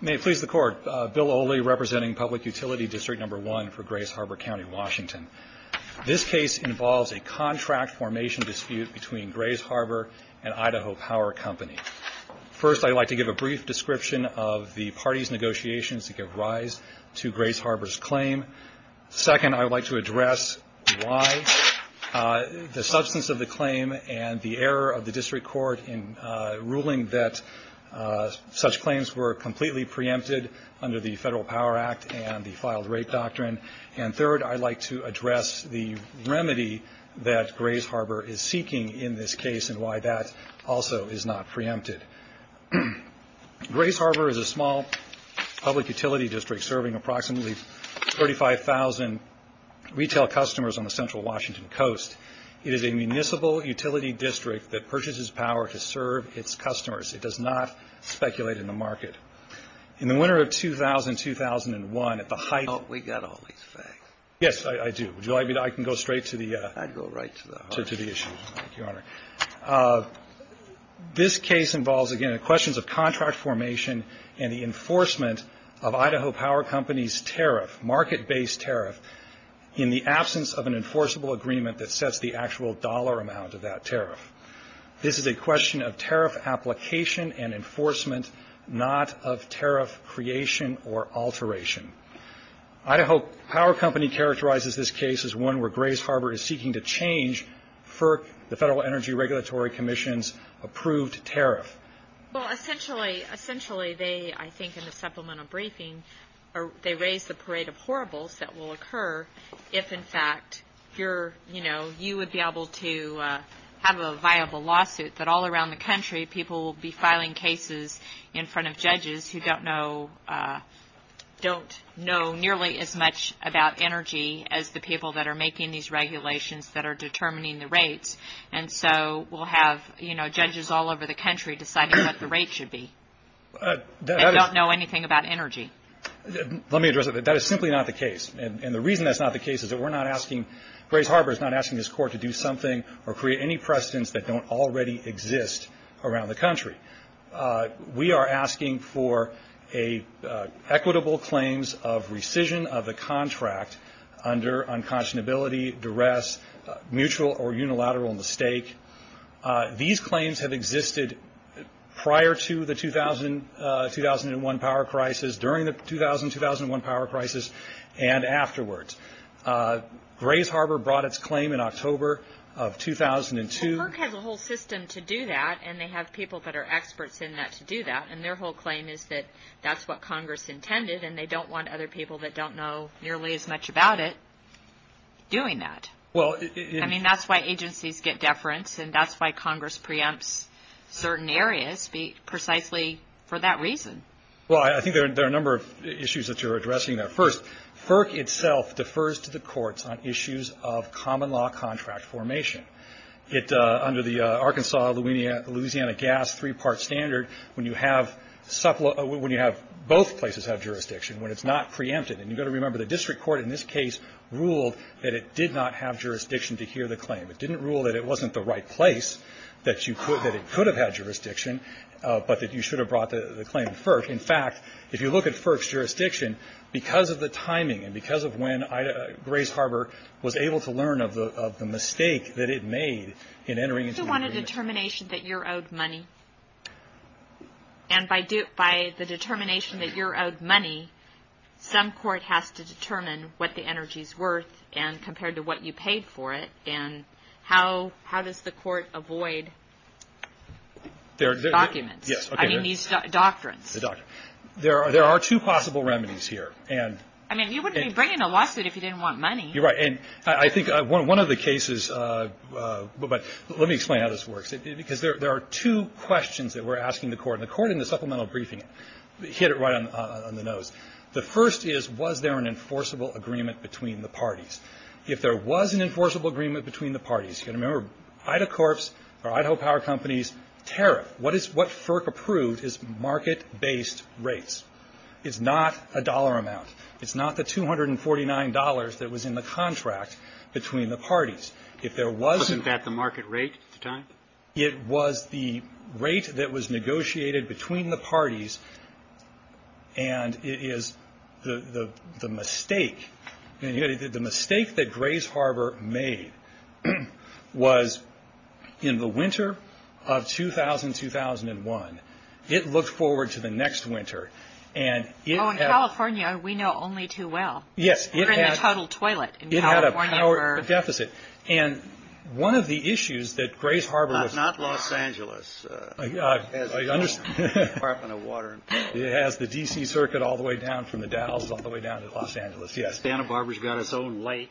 May it please the Court, Bill Oley representing Public Utility District No. 1 for Grays Harbor County, Washington. This case involves a contract formation dispute between Grays Harbor and Idaho Power Company. First, I would like to give a brief description of the parties' negotiations to give rise to Grays Harbor's claim. Second, I would like to address why the substance of the claim and the error of the district court in ruling that such claims were completely preempted under the Federal Power Act and the Filed Rape Doctrine. And third, I would like to address the remedy that Grays Harbor is seeking in this case and why that also is not preempted. Grays Harbor is a small public utility district serving approximately 35,000 retail customers on the central Washington coast. It is a municipal utility district that purchases power to serve its customers. It does not speculate in the market. In the winter of 2000-2001, at the height of the – Oh, we got all these facts. Yes, I do. Would you like me to – I can go straight to the – I'd go right to the heart of it. To the issue, your Honor. This case involves, again, questions of contract formation and the enforcement of Idaho Power Company's tariff, market-based tariff, in the absence of an enforceable agreement that sets the actual dollar amount of that tariff. This is a question of tariff application and enforcement, not of tariff creation or alteration. Idaho Power Company characterizes this case as one where Grays Harbor is seeking to change FERC, the Federal Energy Regulatory Commission's, approved tariff. Well, essentially, they – I think in the supplemental briefing, they raise the parade of horribles that will occur if, in fact, you're – you know, you would be able to have a viable lawsuit that all around the country, people will be filing cases in front of judges who don't know – don't know nearly as much about energy as the people that are making these regulations that are determining the rates. And so we'll have, you know, judges all over the country deciding what the rate should be. They don't know anything about energy. Let me address it. That is simply not the case. And the reason that's not the case is that we're not asking – Grays Harbor is not asking this court to do something or create any precedents that don't already exist around the country. We are asking for equitable claims of rescission of the contract under unconscionability, duress, mutual or unilateral mistake. These claims have existed prior to the 2000-2001 power crisis, during the 2000-2001 power crisis, and afterwards. Grays Harbor brought its claim in October of 2002. Well, PERC has a whole system to do that, and they have people that are experts in that to do that. And their whole claim is that that's what Congress intended, and they don't want other people that don't know nearly as much about it doing that. I mean, that's why agencies get deference, and that's why Congress preempts certain areas, precisely for that reason. Well, I think there are a number of issues that you're addressing there. First, PERC itself defers to the courts on issues of common law contract formation. Under the Arkansas-Louisiana gas three-part standard, when you have – both places have jurisdiction when it's not preempted. And you've got to remember, the district court in this case ruled that it did not have jurisdiction to hear the claim. It didn't rule that it wasn't the right place, that you could – that it could have had jurisdiction, but that you should have brought the claim to PERC. In fact, if you look at PERC's jurisdiction, because of the timing, and because of when Grays Harbor was able to learn of the mistake that it made in entering into the agreement. Do you want a determination that you're owed money? And by the determination that you're owed money, some court has to determine what the energy's worth, and compared to what you paid for it, and how does the court avoid documents? I mean, these doctrines. There are two possible remedies here. I mean, you wouldn't be bringing a lawsuit if you didn't want money. You're right. And I think one of the cases – but let me explain how this works. Because there are two questions that we're asking the court, and the court in the supplemental briefing hit it right on the nose. The first is, was there an enforceable agreement between the parties? If there was an enforceable agreement between the parties, you've got to remember Ida Corps or Idaho Power Companies tariff. What is – what FERC approved is market-based rates. It's not a dollar amount. It's not the $249 that was in the contract between the parties. If there was – Wasn't that the market rate at the time? It was the rate that was negotiated between the parties, and it is the mistake – the mistake that Grays Harbor made was in the winter of 2000-2001. Oh, in California, we know only too well. Yes. We're in the total toilet in California for – It had a power deficit. And one of the issues that Grays Harbor was – Not Los Angeles. I understand. It has the DC circuit all the way down from the Dalles all the way down to Los Angeles, yes. Santa Barbara's got its own lake.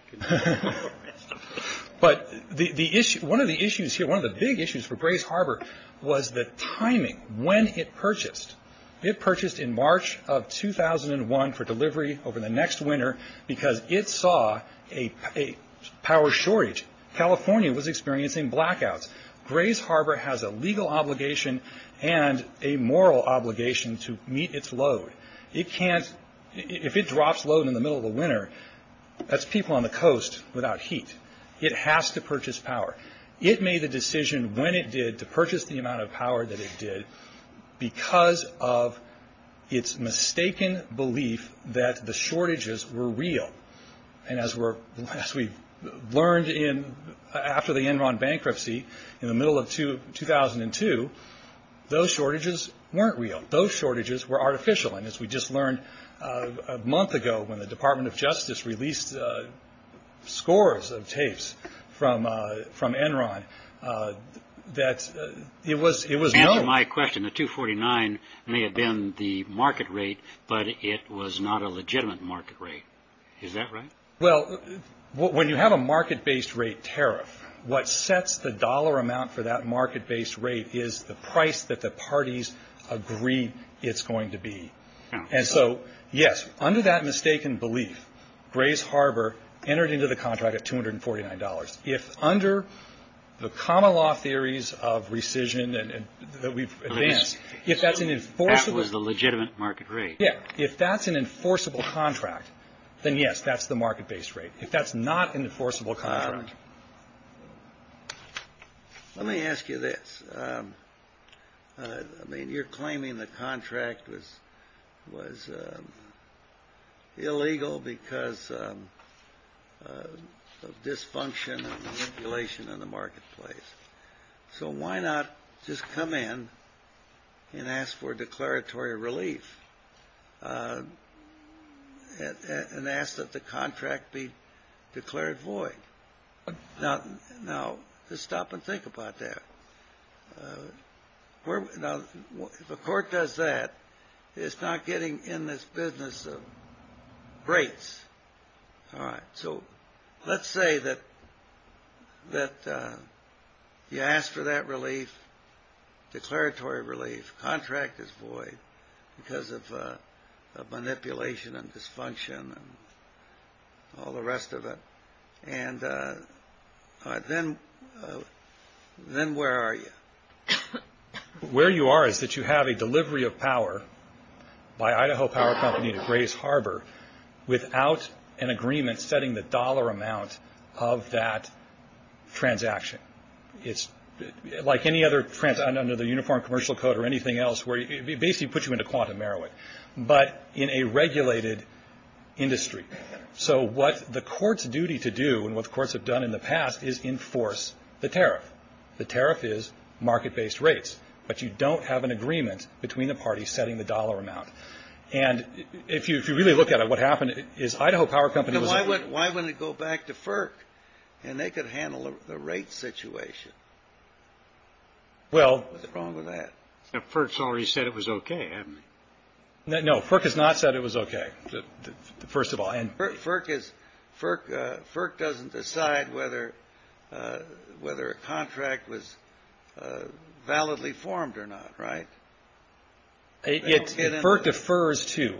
But the issue – one of the issues here, one of the big issues for Grays Harbor was the timing, when it purchased. It purchased in March of 2001 for delivery over the next winter because it saw a power shortage. California was experiencing blackouts. Grays Harbor has a legal obligation and a moral obligation to meet its load. It can't – if it drops load in the middle of the winter, that's people on the coast without heat. It has to purchase power. It made the decision when it did to purchase the amount of power that it did because of its mistaken belief that the shortages were real. And as we learned after the Enron bankruptcy in the middle of 2002, those shortages weren't real. Those shortages were artificial. And as we just learned a month ago when the Department of Justice released scores of tapes from Enron, that it was – Answer my question. The 249 may have been the market rate, but it was not a legitimate market rate. Is that right? Well, when you have a market-based rate tariff, what sets the dollar amount for that market-based rate is the price that the parties agree it's going to be. And so, yes, under that mistaken belief, Grays Harbor entered into the contract at $249. If under the common law theories of rescission that we've advanced, if that's an enforceable – That was the legitimate market rate. Yeah. If that's an enforceable contract, then, yes, that's the market-based rate. If that's not an enforceable contract – Let me ask you this. I mean, you're claiming the contract was illegal because of dysfunction and manipulation in the marketplace. So why not just come in and ask for declaratory relief and ask that the contract be declared void? Now, just stop and think about that. Now, if a court does that, it's not getting in this business of rates. All right. So let's say that you ask for that relief, declaratory relief. Contract is void because of manipulation and dysfunction and all the rest of it. And then where are you? Where you are is that you have a delivery of power by Idaho Power Company to Grays Harbor without an agreement setting the dollar amount of that transaction. It's like any other – under the Uniform Commercial Code or anything else, where it basically puts you into quantum merit, but in a regulated industry. So what the court's duty to do and what the courts have done in the past is enforce the tariff. The tariff is market-based rates, but you don't have an agreement between the parties setting the dollar amount. And if you really look at it, what happened is Idaho Power Company was – Now, why wouldn't it go back to FERC and they could handle the rates situation? Well – What's wrong with that? FERC's already said it was okay, hasn't it? No, FERC has not said it was okay, first of all. FERC doesn't decide whether a contract was validly formed or not, right? FERC defers to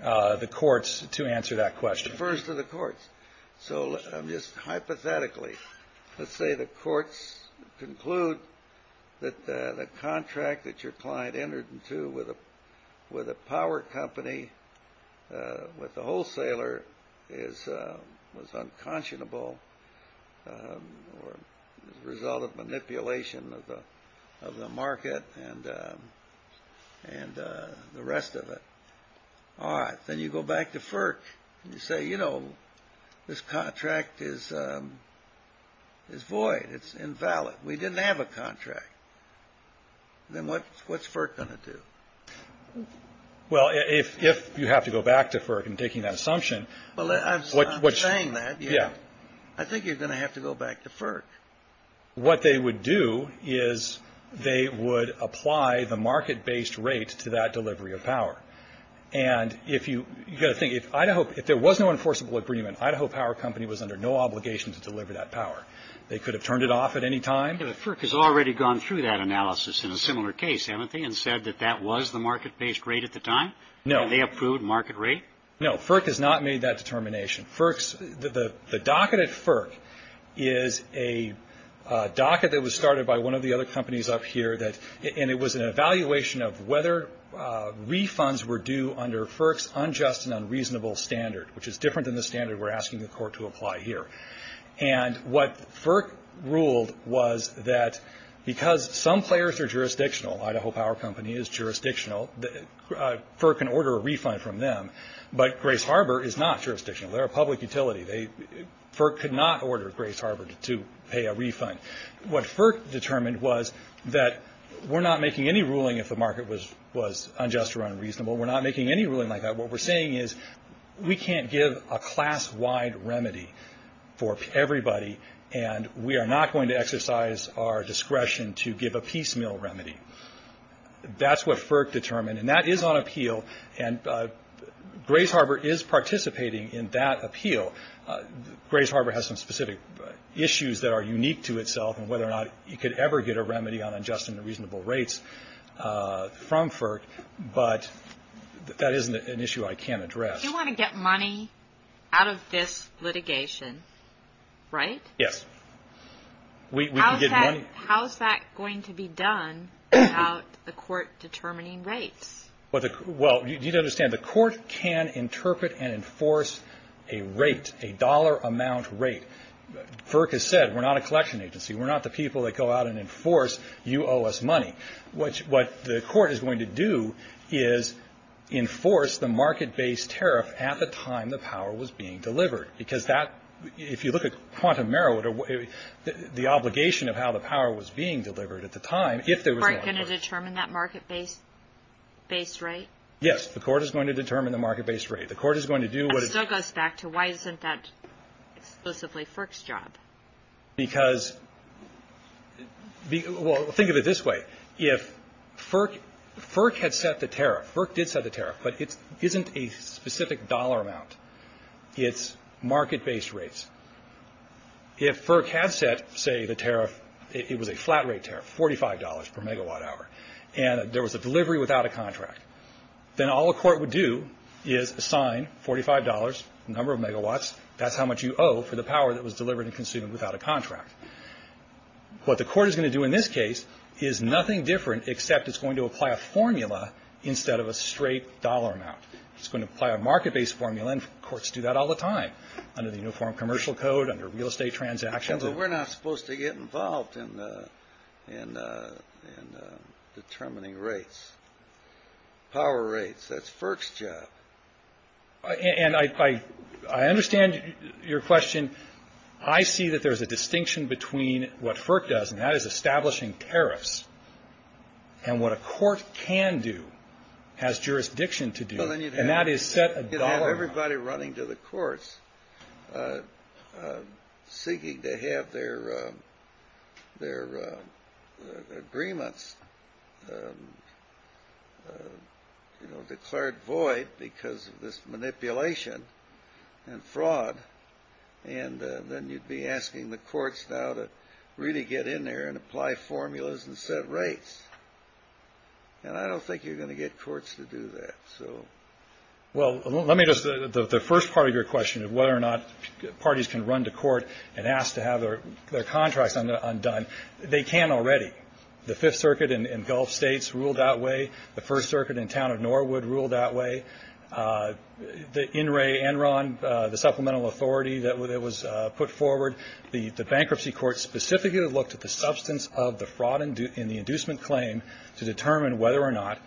the courts to answer that question. It defers to the courts. So just hypothetically, let's say the courts conclude that the contract that your client entered into with a power company, with a wholesaler, was unconscionable or the result of manipulation of the market and the rest of it. All right, then you go back to FERC and you say, you know, this contract is void. It's invalid. We didn't have a contract. Then what's FERC going to do? Well, if you have to go back to FERC in taking that assumption – Well, I'm not saying that. Yeah. I think you're going to have to go back to FERC. What they would do is they would apply the market-based rate to that delivery of power. And if you – you've got to think, if Idaho – if there was no enforceable agreement, Idaho Power Company was under no obligation to deliver that power. They could have turned it off at any time. But FERC has already gone through that analysis in a similar case, haven't they, and said that that was the market-based rate at the time? No. And they approved market rate? No. FERC has not made that determination. FERC's – the docket at FERC is a docket that was started by one of the other companies up here that – and it was an evaluation of whether refunds were due under FERC's unjust and unreasonable standard, which is different than the standard we're asking the court to apply here. And what FERC ruled was that because some players are jurisdictional – Idaho Power Company is jurisdictional – FERC can order a refund from them, but Grace Harbor is not jurisdictional. They're a public utility. They – FERC could not order Grace Harbor to pay a refund. What FERC determined was that we're not making any ruling if the market was unjust or unreasonable. We're not making any ruling like that. What we're saying is we can't give a class-wide remedy for everybody, and we are not going to exercise our discretion to give a piecemeal remedy. That's what FERC determined, and that is on appeal, and Grace Harbor is participating in that appeal. Grace Harbor has some specific issues that are unique to itself and whether or not you could ever get a remedy on unjust and unreasonable rates from FERC, but that isn't an issue I can't address. You want to get money out of this litigation, right? Yes. How is that going to be done without the court determining rates? Well, you need to understand the court can interpret and enforce a rate, a dollar amount rate. FERC has said we're not a collection agency. We're not the people that go out and enforce you owe us money. What the court is going to do is enforce the market-based tariff at the time the power was being delivered because that, if you look at quantum merit or the obligation of how the power was being delivered at the time, if there was one. Is the court going to determine that market-based rate? Yes. The court is going to determine the market-based rate. It still goes back to why isn't that exclusively FERC's job? Because, well, think of it this way. If FERC had set the tariff, FERC did set the tariff, but it isn't a specific dollar amount. It's market-based rates. If FERC had set, say, the tariff, it was a flat rate tariff, $45 per megawatt hour, and there was a delivery without a contract, then all the court would do is assign $45, number of megawatts, that's how much you owe for the power that was delivered and consumed without a contract. What the court is going to do in this case is nothing different except it's going to apply a formula instead of a straight dollar amount. It's going to apply a market-based formula, and courts do that all the time, under the Uniform Commercial Code, under real estate transactions. But we're not supposed to get involved in determining rates, power rates. That's FERC's job. And I understand your question. I see that there's a distinction between what FERC does, and that is establishing tariffs, and what a court can do, has jurisdiction to do, and that is set a dollar amount. Everybody running to the courts seeking to have their agreements declared void because of this manipulation and fraud, and then you'd be asking the courts now to really get in there and apply formulas and set rates. And I don't think you're going to get courts to do that. Well, let me just – the first part of your question of whether or not parties can run to court and ask to have their contracts undone, they can already. The Fifth Circuit in Gulf states ruled that way. The First Circuit in town of Norwood ruled that way. The NRA, NRON, the supplemental authority that was put forward, the bankruptcy court specifically looked at the substance of the fraud in the inducement claim to determine whether or not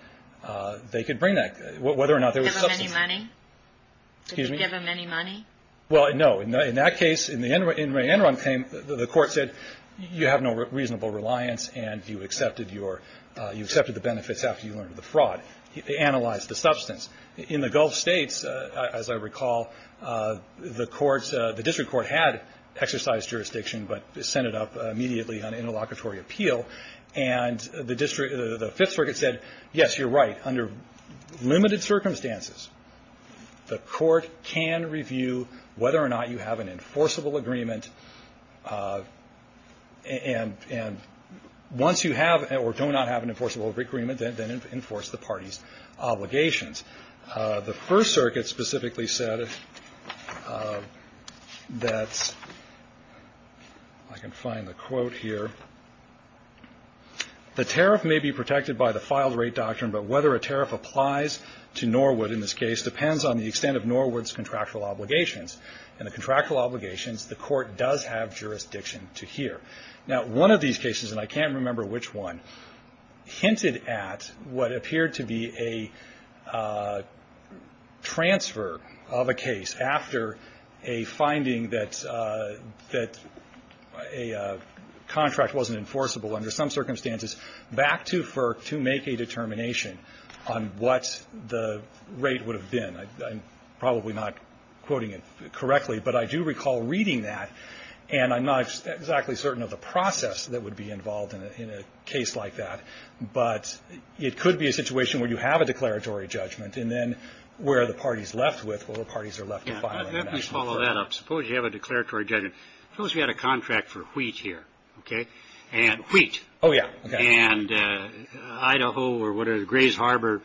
they could bring that – whether or not there was substance. Did you give them any money? Excuse me? Did you give them any money? Well, no. In that case, in the NRON claim, the court said, you have no reasonable reliance, and you accepted the benefits after you learned of the fraud. They analyzed the substance. In the Gulf states, as I recall, the district court had exercised jurisdiction but sent it up immediately on interlocutory appeal. And the Fifth Circuit said, yes, you're right, under limited circumstances, the court can review whether or not you have an enforceable agreement. And once you have or do not have an enforceable agreement, then enforce the party's obligations. The First Circuit specifically said that – I can find the quote here. The tariff may be protected by the filed rate doctrine, but whether a tariff applies to Norwood in this case depends on the extent of Norwood's contractual obligations. In the contractual obligations, the court does have jurisdiction to hear. Now, one of these cases, and I can't remember which one, hinted at what appeared to be a transfer of a case after a finding that a contract wasn't enforceable under some circumstances back to FERC to make a determination on what the rate would have been. I'm probably not quoting it correctly, but I do recall reading that, and I'm not exactly certain of the process that would be involved in a case like that, but it could be a situation where you have a declaratory judgment and then where the party's left with or the parties are left to file an international claim. Let me follow that up. Suppose you have a declaratory judgment. Suppose we had a contract for wheat here, okay, and wheat. Oh, yeah, okay. And Idaho or whatever, Grays Harbor,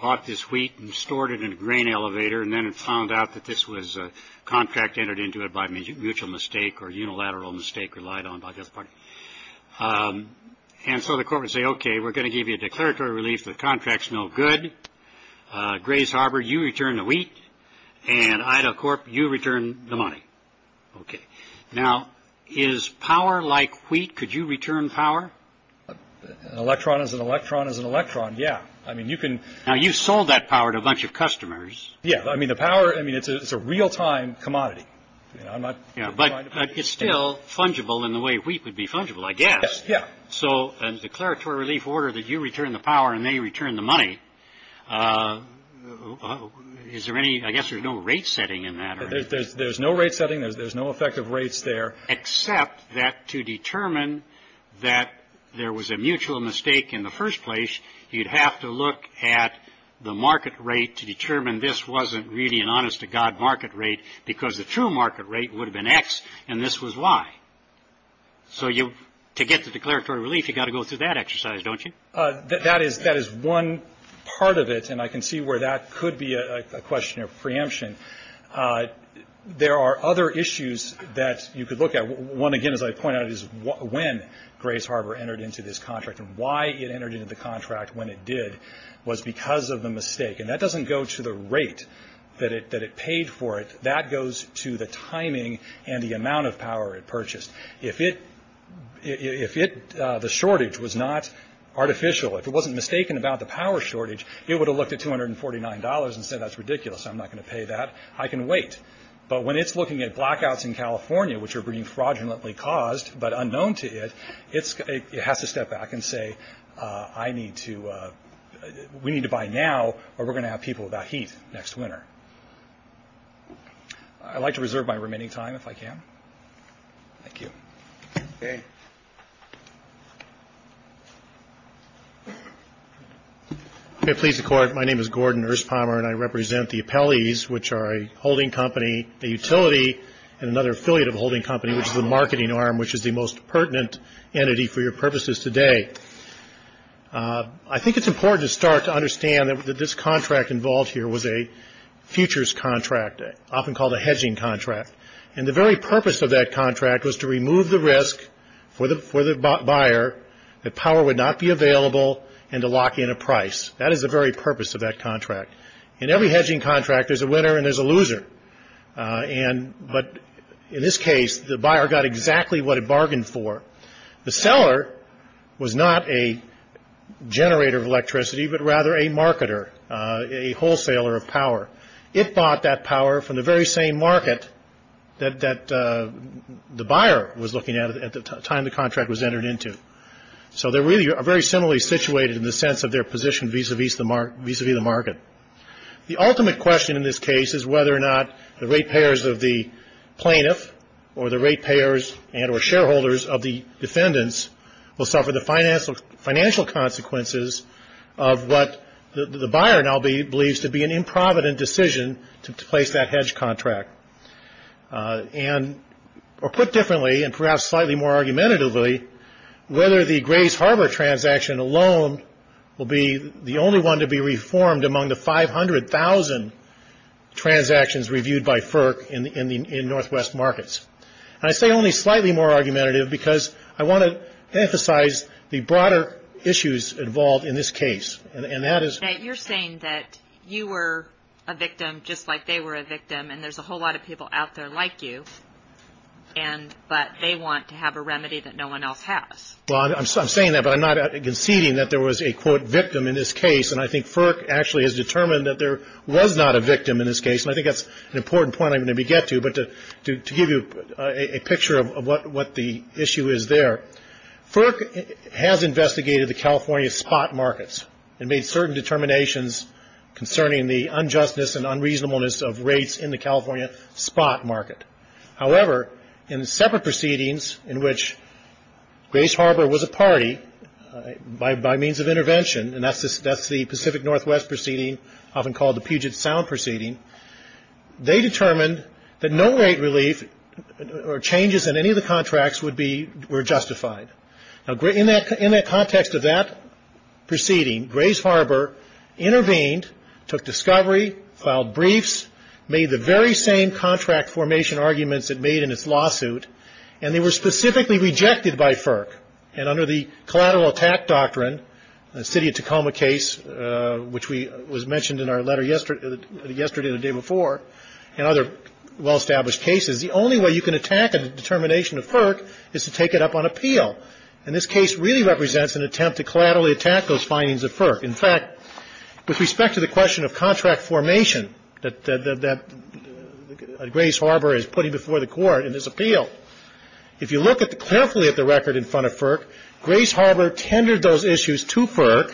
bought this wheat and stored it in a grain elevator and then it found out that this was a contract entered into it by mutual mistake or unilateral mistake relied on by the other party. And so the court would say, okay, we're going to give you a declaratory relief. The contract's no good. Grays Harbor, you return the wheat. And Idaho Corp., you return the money. Okay. Now, is power like wheat? Could you return power? An electron is an electron is an electron, yeah. I mean, you can. Now, you sold that power to a bunch of customers. Yeah. I mean, the power, I mean, it's a real-time commodity. But it's still fungible in the way wheat would be fungible, I guess. Yeah. So a declaratory relief order that you return the power and they return the money, is there any, I guess there's no rate setting in that, right? There's no rate setting. There's no effective rates there. Except that to determine that there was a mutual mistake in the first place, you'd have to look at the market rate to determine this wasn't really an honest-to-God market rate because the true market rate would have been X and this was Y. So to get the declaratory relief, you've got to go through that exercise, don't you? That is one part of it, and I can see where that could be a question of preemption. There are other issues that you could look at. One, again, as I pointed out, is when Grace Harbor entered into this contract and why it entered into the contract when it did was because of the mistake. And that doesn't go to the rate that it paid for it. That goes to the timing and the amount of power it purchased. If the shortage was not artificial, if it wasn't mistaken about the power shortage, it would have looked at $249 and said, that's ridiculous, I'm not going to pay that, I can wait. But when it's looking at blackouts in California, which are being fraudulently caused but unknown to it, it has to step back and say, we need to buy now or we're going to have people without heat next winter. I'd like to reserve my remaining time if I can. Thank you. Okay. May it please the Court, my name is Gordon Erspommer, and I represent the appellees, which are a holding company, a utility, and another affiliate of a holding company, which is the marketing arm, which is the most pertinent entity for your purposes today. I think it's important to start to understand that this contract involved here was a futures contract, often called a hedging contract. And the very purpose of that contract was to remove the risk for the buyer that power would not be available and to lock in a price. That is the very purpose of that contract. In every hedging contract, there's a winner and there's a loser. But in this case, the buyer got exactly what it bargained for. The seller was not a generator of electricity, but rather a marketer, a wholesaler of power. It bought that power from the very same market that the buyer was looking at at the time the contract was entered into. So they really are very similarly situated in the sense of their position vis-à-vis the market. The ultimate question in this case is whether or not the rate payers of the plaintiff or the rate payers and or shareholders of the defendants will suffer the financial consequences of what the buyer now believes to be an improvident decision to place that hedge contract. And or put differently and perhaps slightly more argumentatively, whether the Grays Harbor transaction alone will be the only one to be reformed among the 500,000 transactions reviewed by FERC in Northwest markets. And I say only slightly more argumentative because I want to emphasize the broader issues involved in this case. And that is. You're saying that you were a victim just like they were a victim and there's a whole lot of people out there like you. And but they want to have a remedy that no one else has. I'm saying that, but I'm not conceding that there was a, quote, victim in this case. And I think FERC actually has determined that there was not a victim in this case. And I think that's an important point I'm going to get to. But to give you a picture of what the issue is there. FERC has investigated the California spot markets and made certain determinations concerning the unjustness and unreasonableness of rates in the California spot market. However, in separate proceedings in which Grace Harbor was a party by means of intervention. And that's the Pacific Northwest proceeding, often called the Puget Sound proceeding. They determined that no rate relief or changes in any of the contracts would be were justified. Now, in that in that context of that proceeding, Grace Harbor intervened, took discovery, filed briefs, made the very same contract formation arguments it made in its lawsuit, and they were specifically rejected by FERC. And under the collateral attack doctrine, the City of Tacoma case, which was mentioned in our letter yesterday and the day before, and other well-established cases, the only way you can attack a determination of FERC is to take it up on appeal. And this case really represents an attempt to collaterally attack those findings of FERC. In fact, with respect to the question of contract formation that Grace Harbor is putting before the Court in this appeal, if you look at the carefully at the record in front of FERC, Grace Harbor tendered those issues to FERC,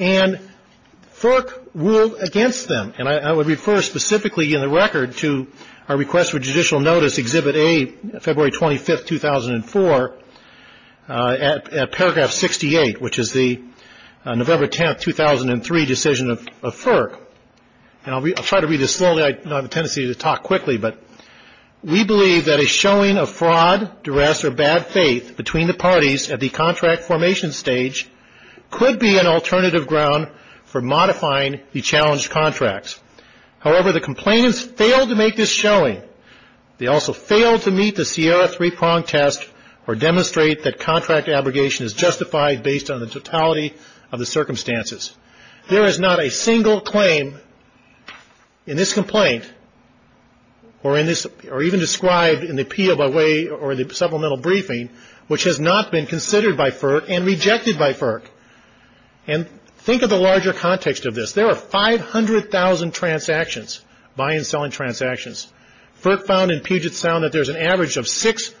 and FERC ruled against them. And I would refer specifically in the record to our request for judicial notice, Exhibit A, February 25th, 2004, at paragraph 68, which is the November 10th, 2003, decision of FERC. And I'll try to read this slowly. I have a tendency to talk quickly, but we believe that a showing of fraud, duress, or bad faith between the parties at the contract formation stage could be an alternative ground for modifying the challenged contracts. However, the complainants failed to make this showing. They also failed to meet the Sierra three-prong test or demonstrate that contract abrogation is justified based on the totality of the circumstances. There is not a single claim in this complaint or even described in the appeal by way or the supplemental briefing which has not been considered by FERC and rejected by FERC. And think of the larger context of this. There are 500,000 transactions, buy and selling transactions. FERC found in Puget Sound that there's an average of six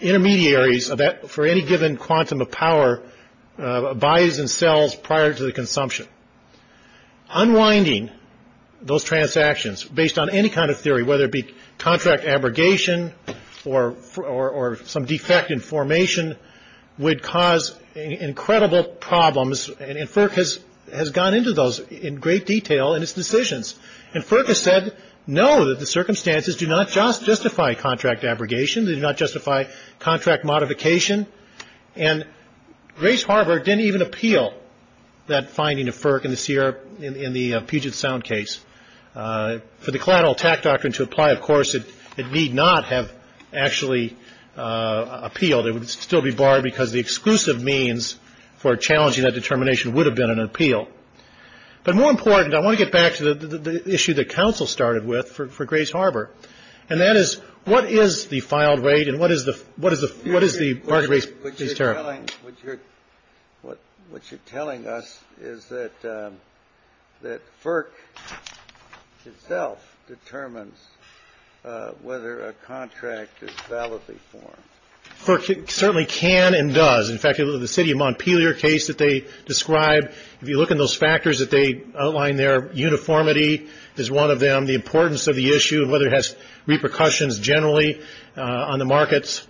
intermediaries for any given quantum of power, buys and sells prior to the consumption. Unwinding those transactions based on any kind of theory, whether it be contract abrogation or some defect in formation would cause incredible problems. And FERC has gone into those in great detail in its decisions. And FERC has said no, that the circumstances do not justify contract abrogation. They do not justify contract modification. And Grace Harbor didn't even appeal that finding of FERC in the Puget Sound case. For the collateral attack doctrine to apply, of course, it need not have actually appealed. It would still be barred because the exclusive means for challenging that determination would have been an appeal. But more important, I want to get back to the issue that counsel started with for Grace Harbor, and that is what is the filed rate and what is the what is the what is the market rate? What you're telling us is that that FERC itself determines whether a contract is validly formed. Certainly can and does. In fact, the city of Montpelier case that they described, if you look in those factors that they outline there, uniformity is one of them. The importance of the issue, whether it has repercussions generally on the markets.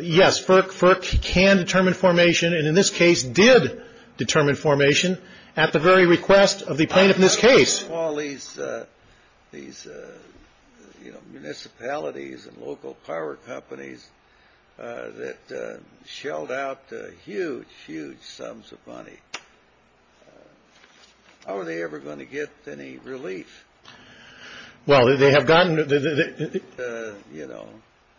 Yes, FERC can determine formation. And in this case did determine formation at the very request of the plaintiff in this case. All these municipalities and local power companies that shelled out huge, huge sums of money. How are they ever going to get any relief? Well, they have gotten, you know.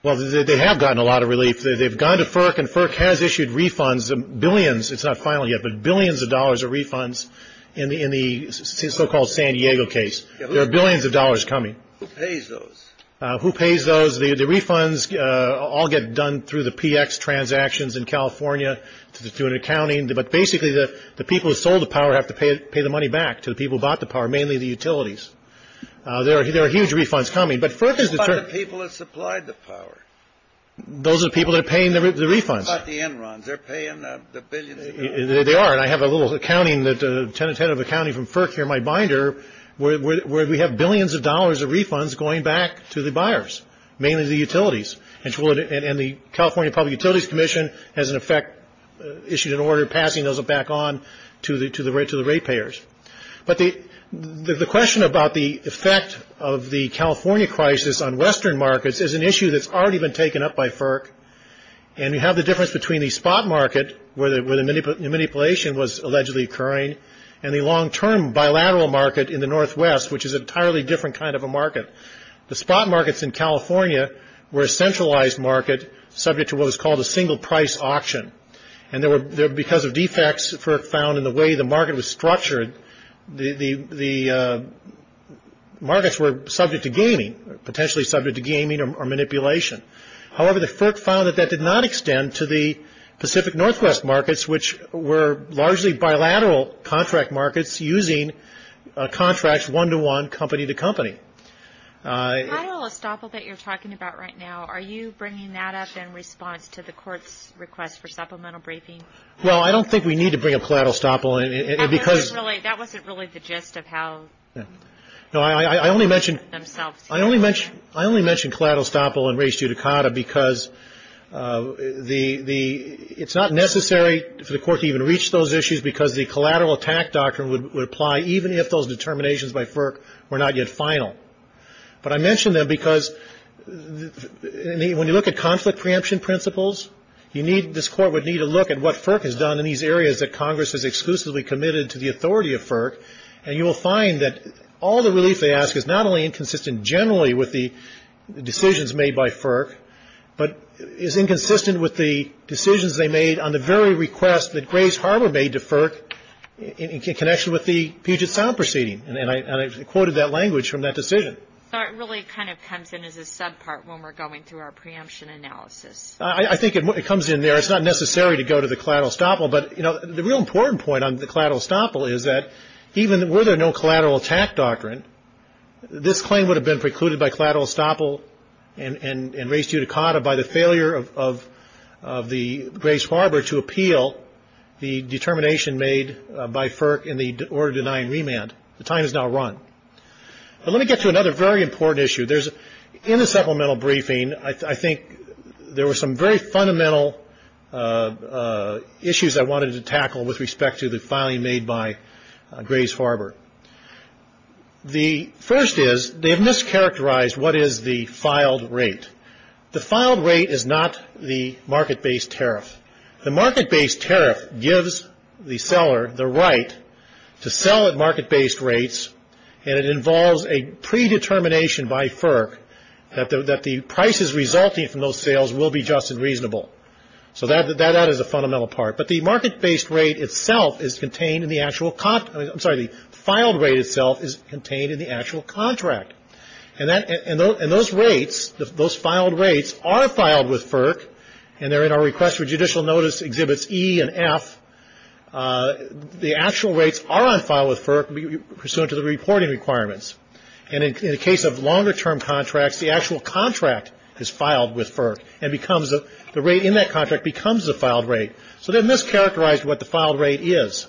Well, they have gotten a lot of relief. They've gone to FERC and FERC has issued refunds of billions. It's not final yet, but billions of dollars of refunds in the in the so-called San Diego case. There are billions of dollars coming. Who pays those? Who pays those? The refunds all get done through the PX transactions in California to do an accounting. But basically, the people who sold the power have to pay the money back to the people who bought the power, mainly the utilities. There are huge refunds coming. But FERC is determined. What about the people that supplied the power? Those are the people that are paying the refunds. What about the Enrons? They're paying the billions. They are. And I have a little accounting, a tentative accounting from FERC here, my binder, where we have billions of dollars of refunds going back to the buyers, mainly the utilities. And the California Public Utilities Commission has, in effect, issued an order passing those back on to the rate payers. But the question about the effect of the California crisis on Western markets is an issue that's already been taken up by FERC. And we have the difference between the spot market, where the manipulation was allegedly occurring, and the long-term bilateral market in the Northwest, which is an entirely different kind of a market. The spot markets in California were a centralized market subject to what was called a single-price auction. And because of defects FERC found in the way the market was structured, the markets were subject to gaming, potentially subject to gaming or manipulation. However, the FERC found that that did not extend to the Pacific Northwest markets, which were largely bilateral contract markets using contracts one-to-one, company-to-company. The collateral estoppel that you're talking about right now, are you bringing that up in response to the court's request for supplemental briefing? Well, I don't think we need to bring up collateral estoppel because – That wasn't really the gist of how – No, I only mention – Themselves. I only mention collateral estoppel and res judicata because the – it's not necessary for the court to even reach those issues because the collateral attack doctrine would apply even if those determinations by FERC were not yet final. But I mention them because when you look at conflict preemption principles, you need – this Court would need to look at what FERC has done in these areas that Congress has exclusively committed to the authority of FERC. And you will find that all the relief they ask is not only inconsistent generally with the decisions made by FERC, but is inconsistent with the decisions they made on the very request that Grace Harbor made to FERC in connection with the Puget Sound proceeding. And I quoted that language from that decision. So it really kind of comes in as a subpart when we're going through our preemption analysis. I think it comes in there. It's not necessary to go to the collateral estoppel. But, you know, the real important point on the collateral estoppel is that even were there no collateral attack doctrine, this claim would have been precluded by collateral estoppel and res judicata by the failure of the Grace Harbor to appeal the determination made by FERC in the order denying remand. The time is now run. But let me get to another very important issue. In the supplemental briefing, I think there were some very fundamental issues I wanted to tackle with respect to the filing made by Grace Harbor. The first is they have mischaracterized what is the filed rate. The filed rate is not the market-based tariff. The market-based tariff gives the seller the right to sell at market-based rates, and it involves a predetermination by FERC that the prices resulting from those sales will be just and reasonable. So that is a fundamental part. But the market-based rate itself is contained in the actual content. I'm sorry. The filed rate itself is contained in the actual contract. And those rates, those filed rates, are filed with FERC, and they're in our request for judicial notice exhibits E and F. The actual rates are on file with FERC pursuant to the reporting requirements. And in the case of longer-term contracts, the actual contract is filed with FERC, and the rate in that contract becomes the filed rate. So they've mischaracterized what the filed rate is.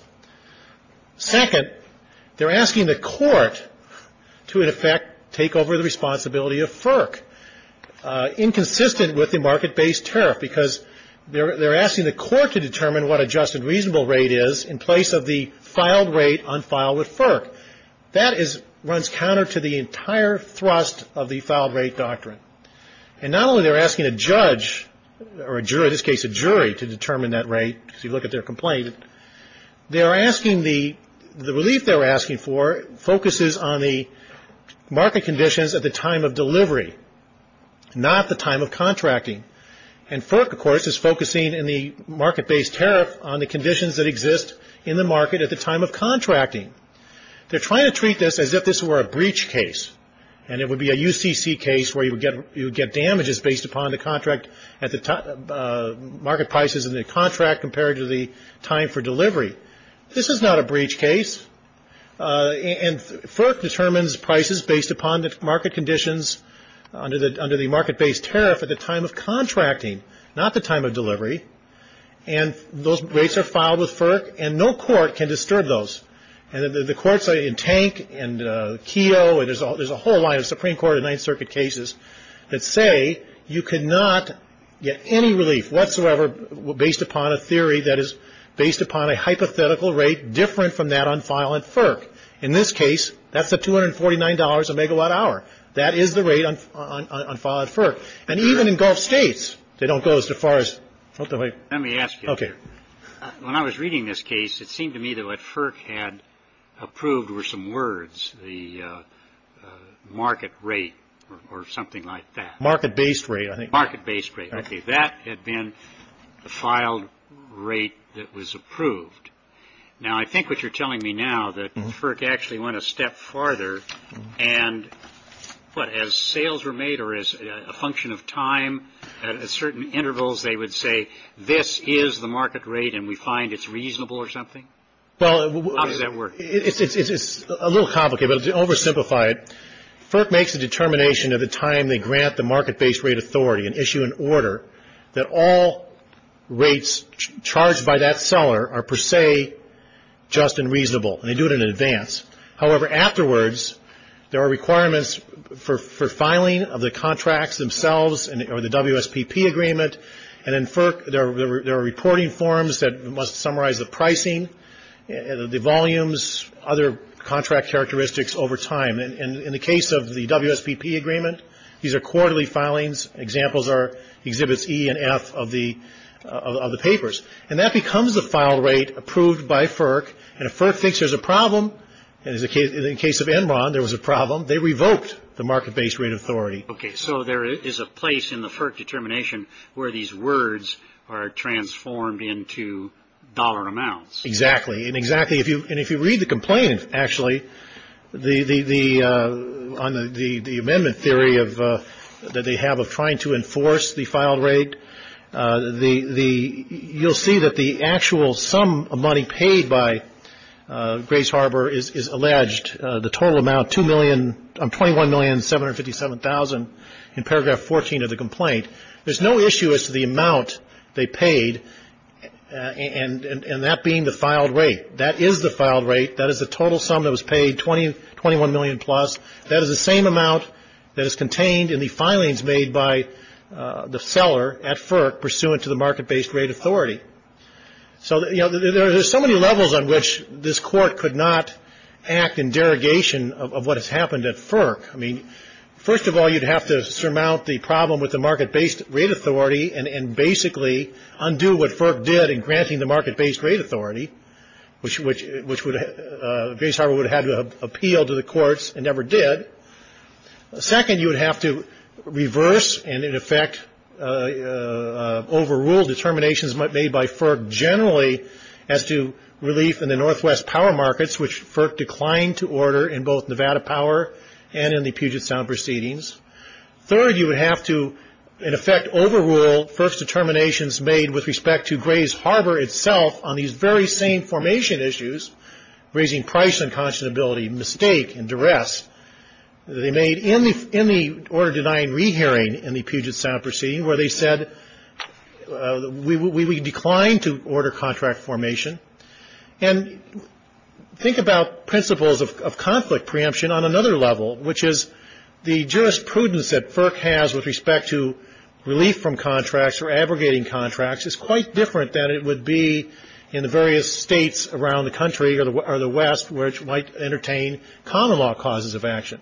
Second, they're asking the court to, in effect, take over the responsibility of FERC, inconsistent with the market-based tariff, because they're asking the court to determine what a just and reasonable rate is in place of the filed rate on file with FERC. That runs counter to the entire thrust of the filed rate doctrine. And not only are they asking a judge or a jury, in this case a jury, to determine that rate, because you look at their complaint, They are asking the, the relief they're asking for focuses on the market conditions at the time of delivery, not the time of contracting. And FERC, of course, is focusing in the market-based tariff on the conditions that exist in the market at the time of contracting. They're trying to treat this as if this were a breach case, and it would be a UCC case where you would get damages based upon the contract, market prices in the contract compared to the time for delivery. This is not a breach case. And FERC determines prices based upon the market conditions under the market-based tariff at the time of contracting, not the time of delivery. And those rates are filed with FERC, and no court can disturb those. And the courts in Tank and Keogh, and there's a whole line of Supreme Court and Ninth Circuit cases that say you cannot get any relief whatsoever based upon a theory that is based upon a hypothetical rate different from that on file at FERC. In this case, that's at $249 a megawatt hour. That is the rate on file at FERC. And even in Gulf states, they don't go as far as... Let me ask you, when I was reading this case, it seemed to me that what FERC had approved were some words. The market rate or something like that. Market-based rate, I think. Market-based rate. Okay. That had been the filed rate that was approved. Now, I think what you're telling me now, that FERC actually went a step farther and, what, as sales were made or as a function of time, at certain intervals they would say, this is the market rate and we find it's reasonable or something? How does that work? It's a little complicated, but to oversimplify it, FERC makes a determination at the time they grant the market-based rate authority, an issue in order, that all rates charged by that seller are per se just and reasonable, and they do it in advance. However, afterwards, there are requirements for filing of the contracts themselves or the WSPP agreement, and in FERC there are reporting forms that must summarize the pricing, the volumes, other contract characteristics over time. In the case of the WSPP agreement, these are quarterly filings. Examples are Exhibits E and F of the papers. And that becomes the file rate approved by FERC, and if FERC thinks there's a problem, and in the case of Enron there was a problem, they revoked the market-based rate authority. Okay, so there is a place in the FERC determination where these words are transformed into dollar amounts. Exactly. And if you read the complaint, actually, on the amendment theory that they have of trying to enforce the file rate, you'll see that the actual sum of money paid by Grace Harbor is alleged. The total amount, $21,757,000 in paragraph 14 of the complaint. There's no issue as to the amount they paid, and that being the filed rate. That is the filed rate. That is the total sum that was paid, $21 million plus. That is the same amount that is contained in the filings made by the seller at FERC pursuant to the market-based rate authority. So, you know, there are so many levels on which this Court could not act in derogation of what has happened at FERC. I mean, first of all, you'd have to surmount the problem with the market-based rate authority and basically undo what FERC did in granting the market-based rate authority, which Grace Harbor would have had to appeal to the courts and never did. Second, you would have to reverse and, in effect, overrule determinations made by FERC generally as to relief in the northwest power markets, which FERC declined to order in both Nevada Power and in the Puget Sound proceedings. Third, you would have to, in effect, overrule first determinations made with respect to Grace Harbor itself on these very same formation issues, raising price unconscionability, mistake, and duress they made in the order-denying re-hearing in the Puget Sound proceeding, where they said we declined to order contract formation. And think about principles of conflict preemption on another level, which is the jurisprudence that FERC has with respect to relief from contracts or abrogating contracts is quite different than it would be in the various states around the country or the West, which might entertain common-law causes of action.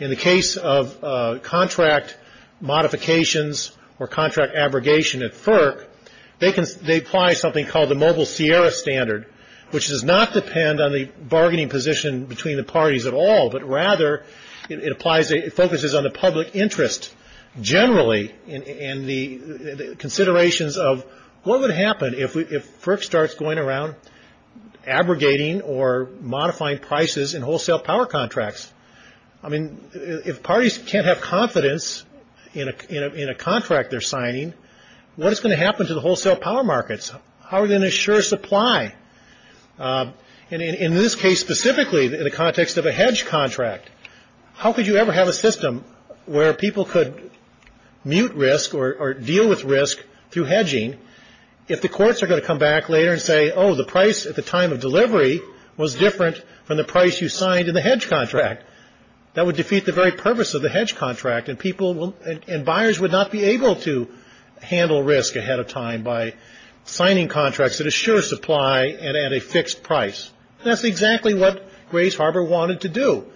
In the case of contract modifications or contract abrogation at FERC, they apply something called the Mobile Sierra Standard, which does not depend on the bargaining position between the parties at all, but rather it focuses on the public interest generally and the considerations of what would happen if FERC starts going around abrogating or modifying prices in wholesale power contracts. I mean, if parties can't have confidence in a contract they're signing, what is going to happen to the wholesale power markets? How are they going to assure supply? And in this case specifically, in the context of a hedge contract, how could you ever have a system where people could mute risk or deal with risk through hedging if the courts are going to come back later and say, oh, the price at the time of delivery was different from the price you signed in the hedge contract? That would defeat the very purpose of the hedge contract and buyers would not be able to handle risk ahead of time by signing contracts that assure supply and at a fixed price. That's exactly what Grays Harbor wanted to do.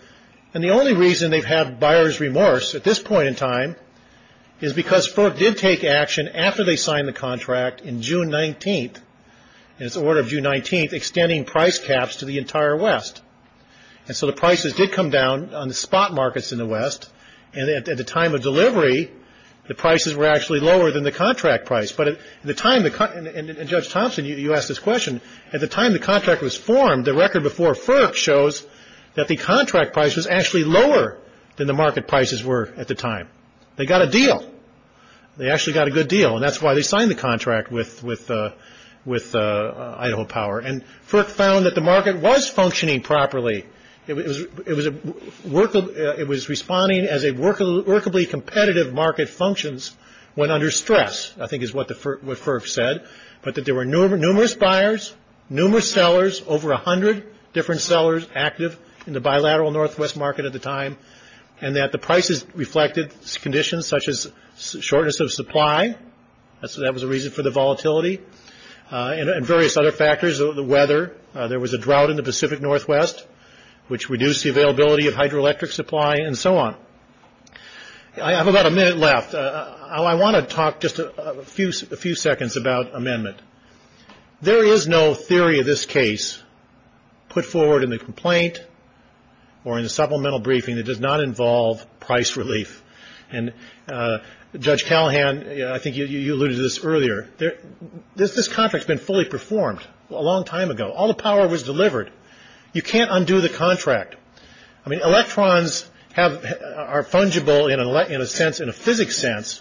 And the only reason they've had buyer's remorse at this point in time is because FERC did take action after they signed the contract in June 19th, and it's the order of June 19th, extending price caps to the entire West. And so the prices did come down on the spot markets in the West, and at the time of delivery the prices were actually lower than the contract price. But at the time, and Judge Thompson, you asked this question, at the time the contract was formed, the record before FERC shows that the contract price was actually lower than the market prices were at the time. They got a deal. They actually got a good deal, and that's why they signed the contract with Idaho Power. And FERC found that the market was functioning properly. It was responding as a workably competitive market functions when under stress, I think is what FERC said, but that there were numerous buyers, numerous sellers, over 100 different sellers active in the bilateral Northwest market at the time, and that the prices reflected conditions such as shortness of supply. That was a reason for the volatility. And various other factors, the weather. There was a drought in the Pacific Northwest, which reduced the availability of hydroelectric supply and so on. I have about a minute left. I want to talk just a few seconds about amendment. There is no theory of this case put forward in the complaint or in the supplemental briefing that does not involve price relief. And Judge Callahan, I think you alluded to this earlier. This contract has been fully performed a long time ago. All the power was delivered. You can't undo the contract. I mean, electrons are fungible in a sense, in a physics sense,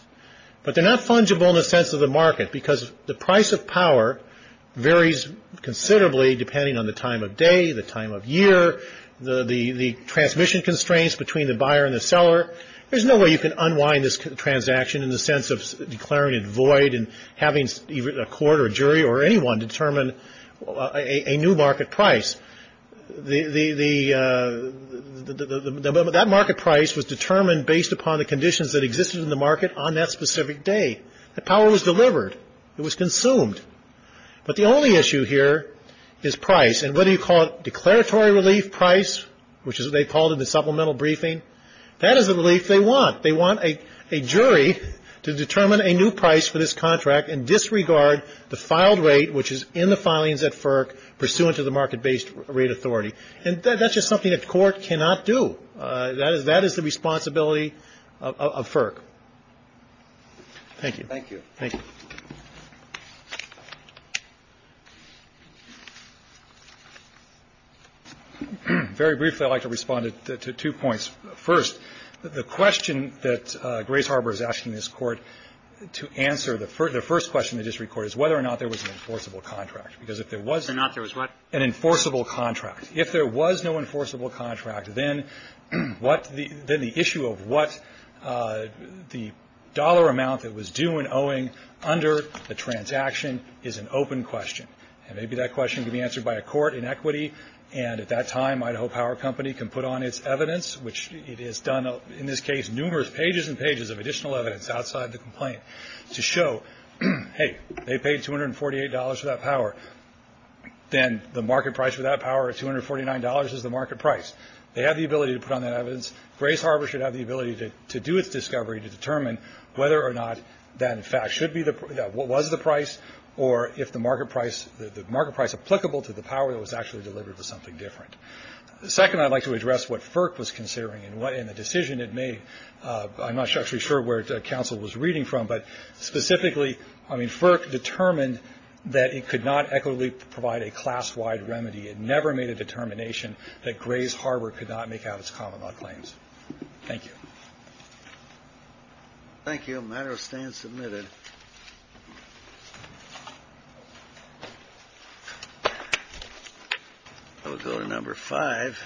but they're not fungible in the sense of the market because the price of power varies considerably depending on the time of day, the time of year, the transmission constraints between the buyer and the seller. There's no way you can unwind this transaction in the sense of declaring it void and having a court or a jury or anyone determine a new market price. That market price was determined based upon the conditions that existed in the market on that specific day. The power was delivered. It was consumed. But the only issue here is price. And whether you call it declaratory relief price, which is what they called it in the supplemental briefing, that is the relief they want. They want a jury to determine a new price for this contract and disregard the filed rate, which is in the filings at FERC, pursuant to the market-based rate authority. And that's just something a court cannot do. That is the responsibility of FERC. Thank you. Thank you. Thank you. Very briefly, I'd like to respond to two points. First, the question that Grace Harbor is asking this Court to answer, the first question the district court is whether or not there was an enforceable contract. Because if there was an enforceable contract, if there was no enforceable contract, then the issue of what the dollar amount that was due and owing under the transaction is an open question. And maybe that question can be answered by a court in equity. And at that time, Idaho Power Company can put on its evidence, which it has done in this case numerous pages and pages of additional evidence outside the complaint, to show, hey, they paid $248 for that power. Then the market price for that power of $249 is the market price. They have the ability to put on that evidence. Grace Harbor should have the ability to do its discovery to determine whether or not that, in fact, was the price or if the market price applicable to the power that was actually delivered was something different. Second, I'd like to address what FERC was considering and the decision it made. I'm not actually sure where counsel was reading from, but specifically, I mean, FERC determined that it could not equitably provide a class-wide remedy. It never made a determination that Grace Harbor could not make out its common-law claims. Thank you. Thank you. The matter stands submitted. We'll go to number five.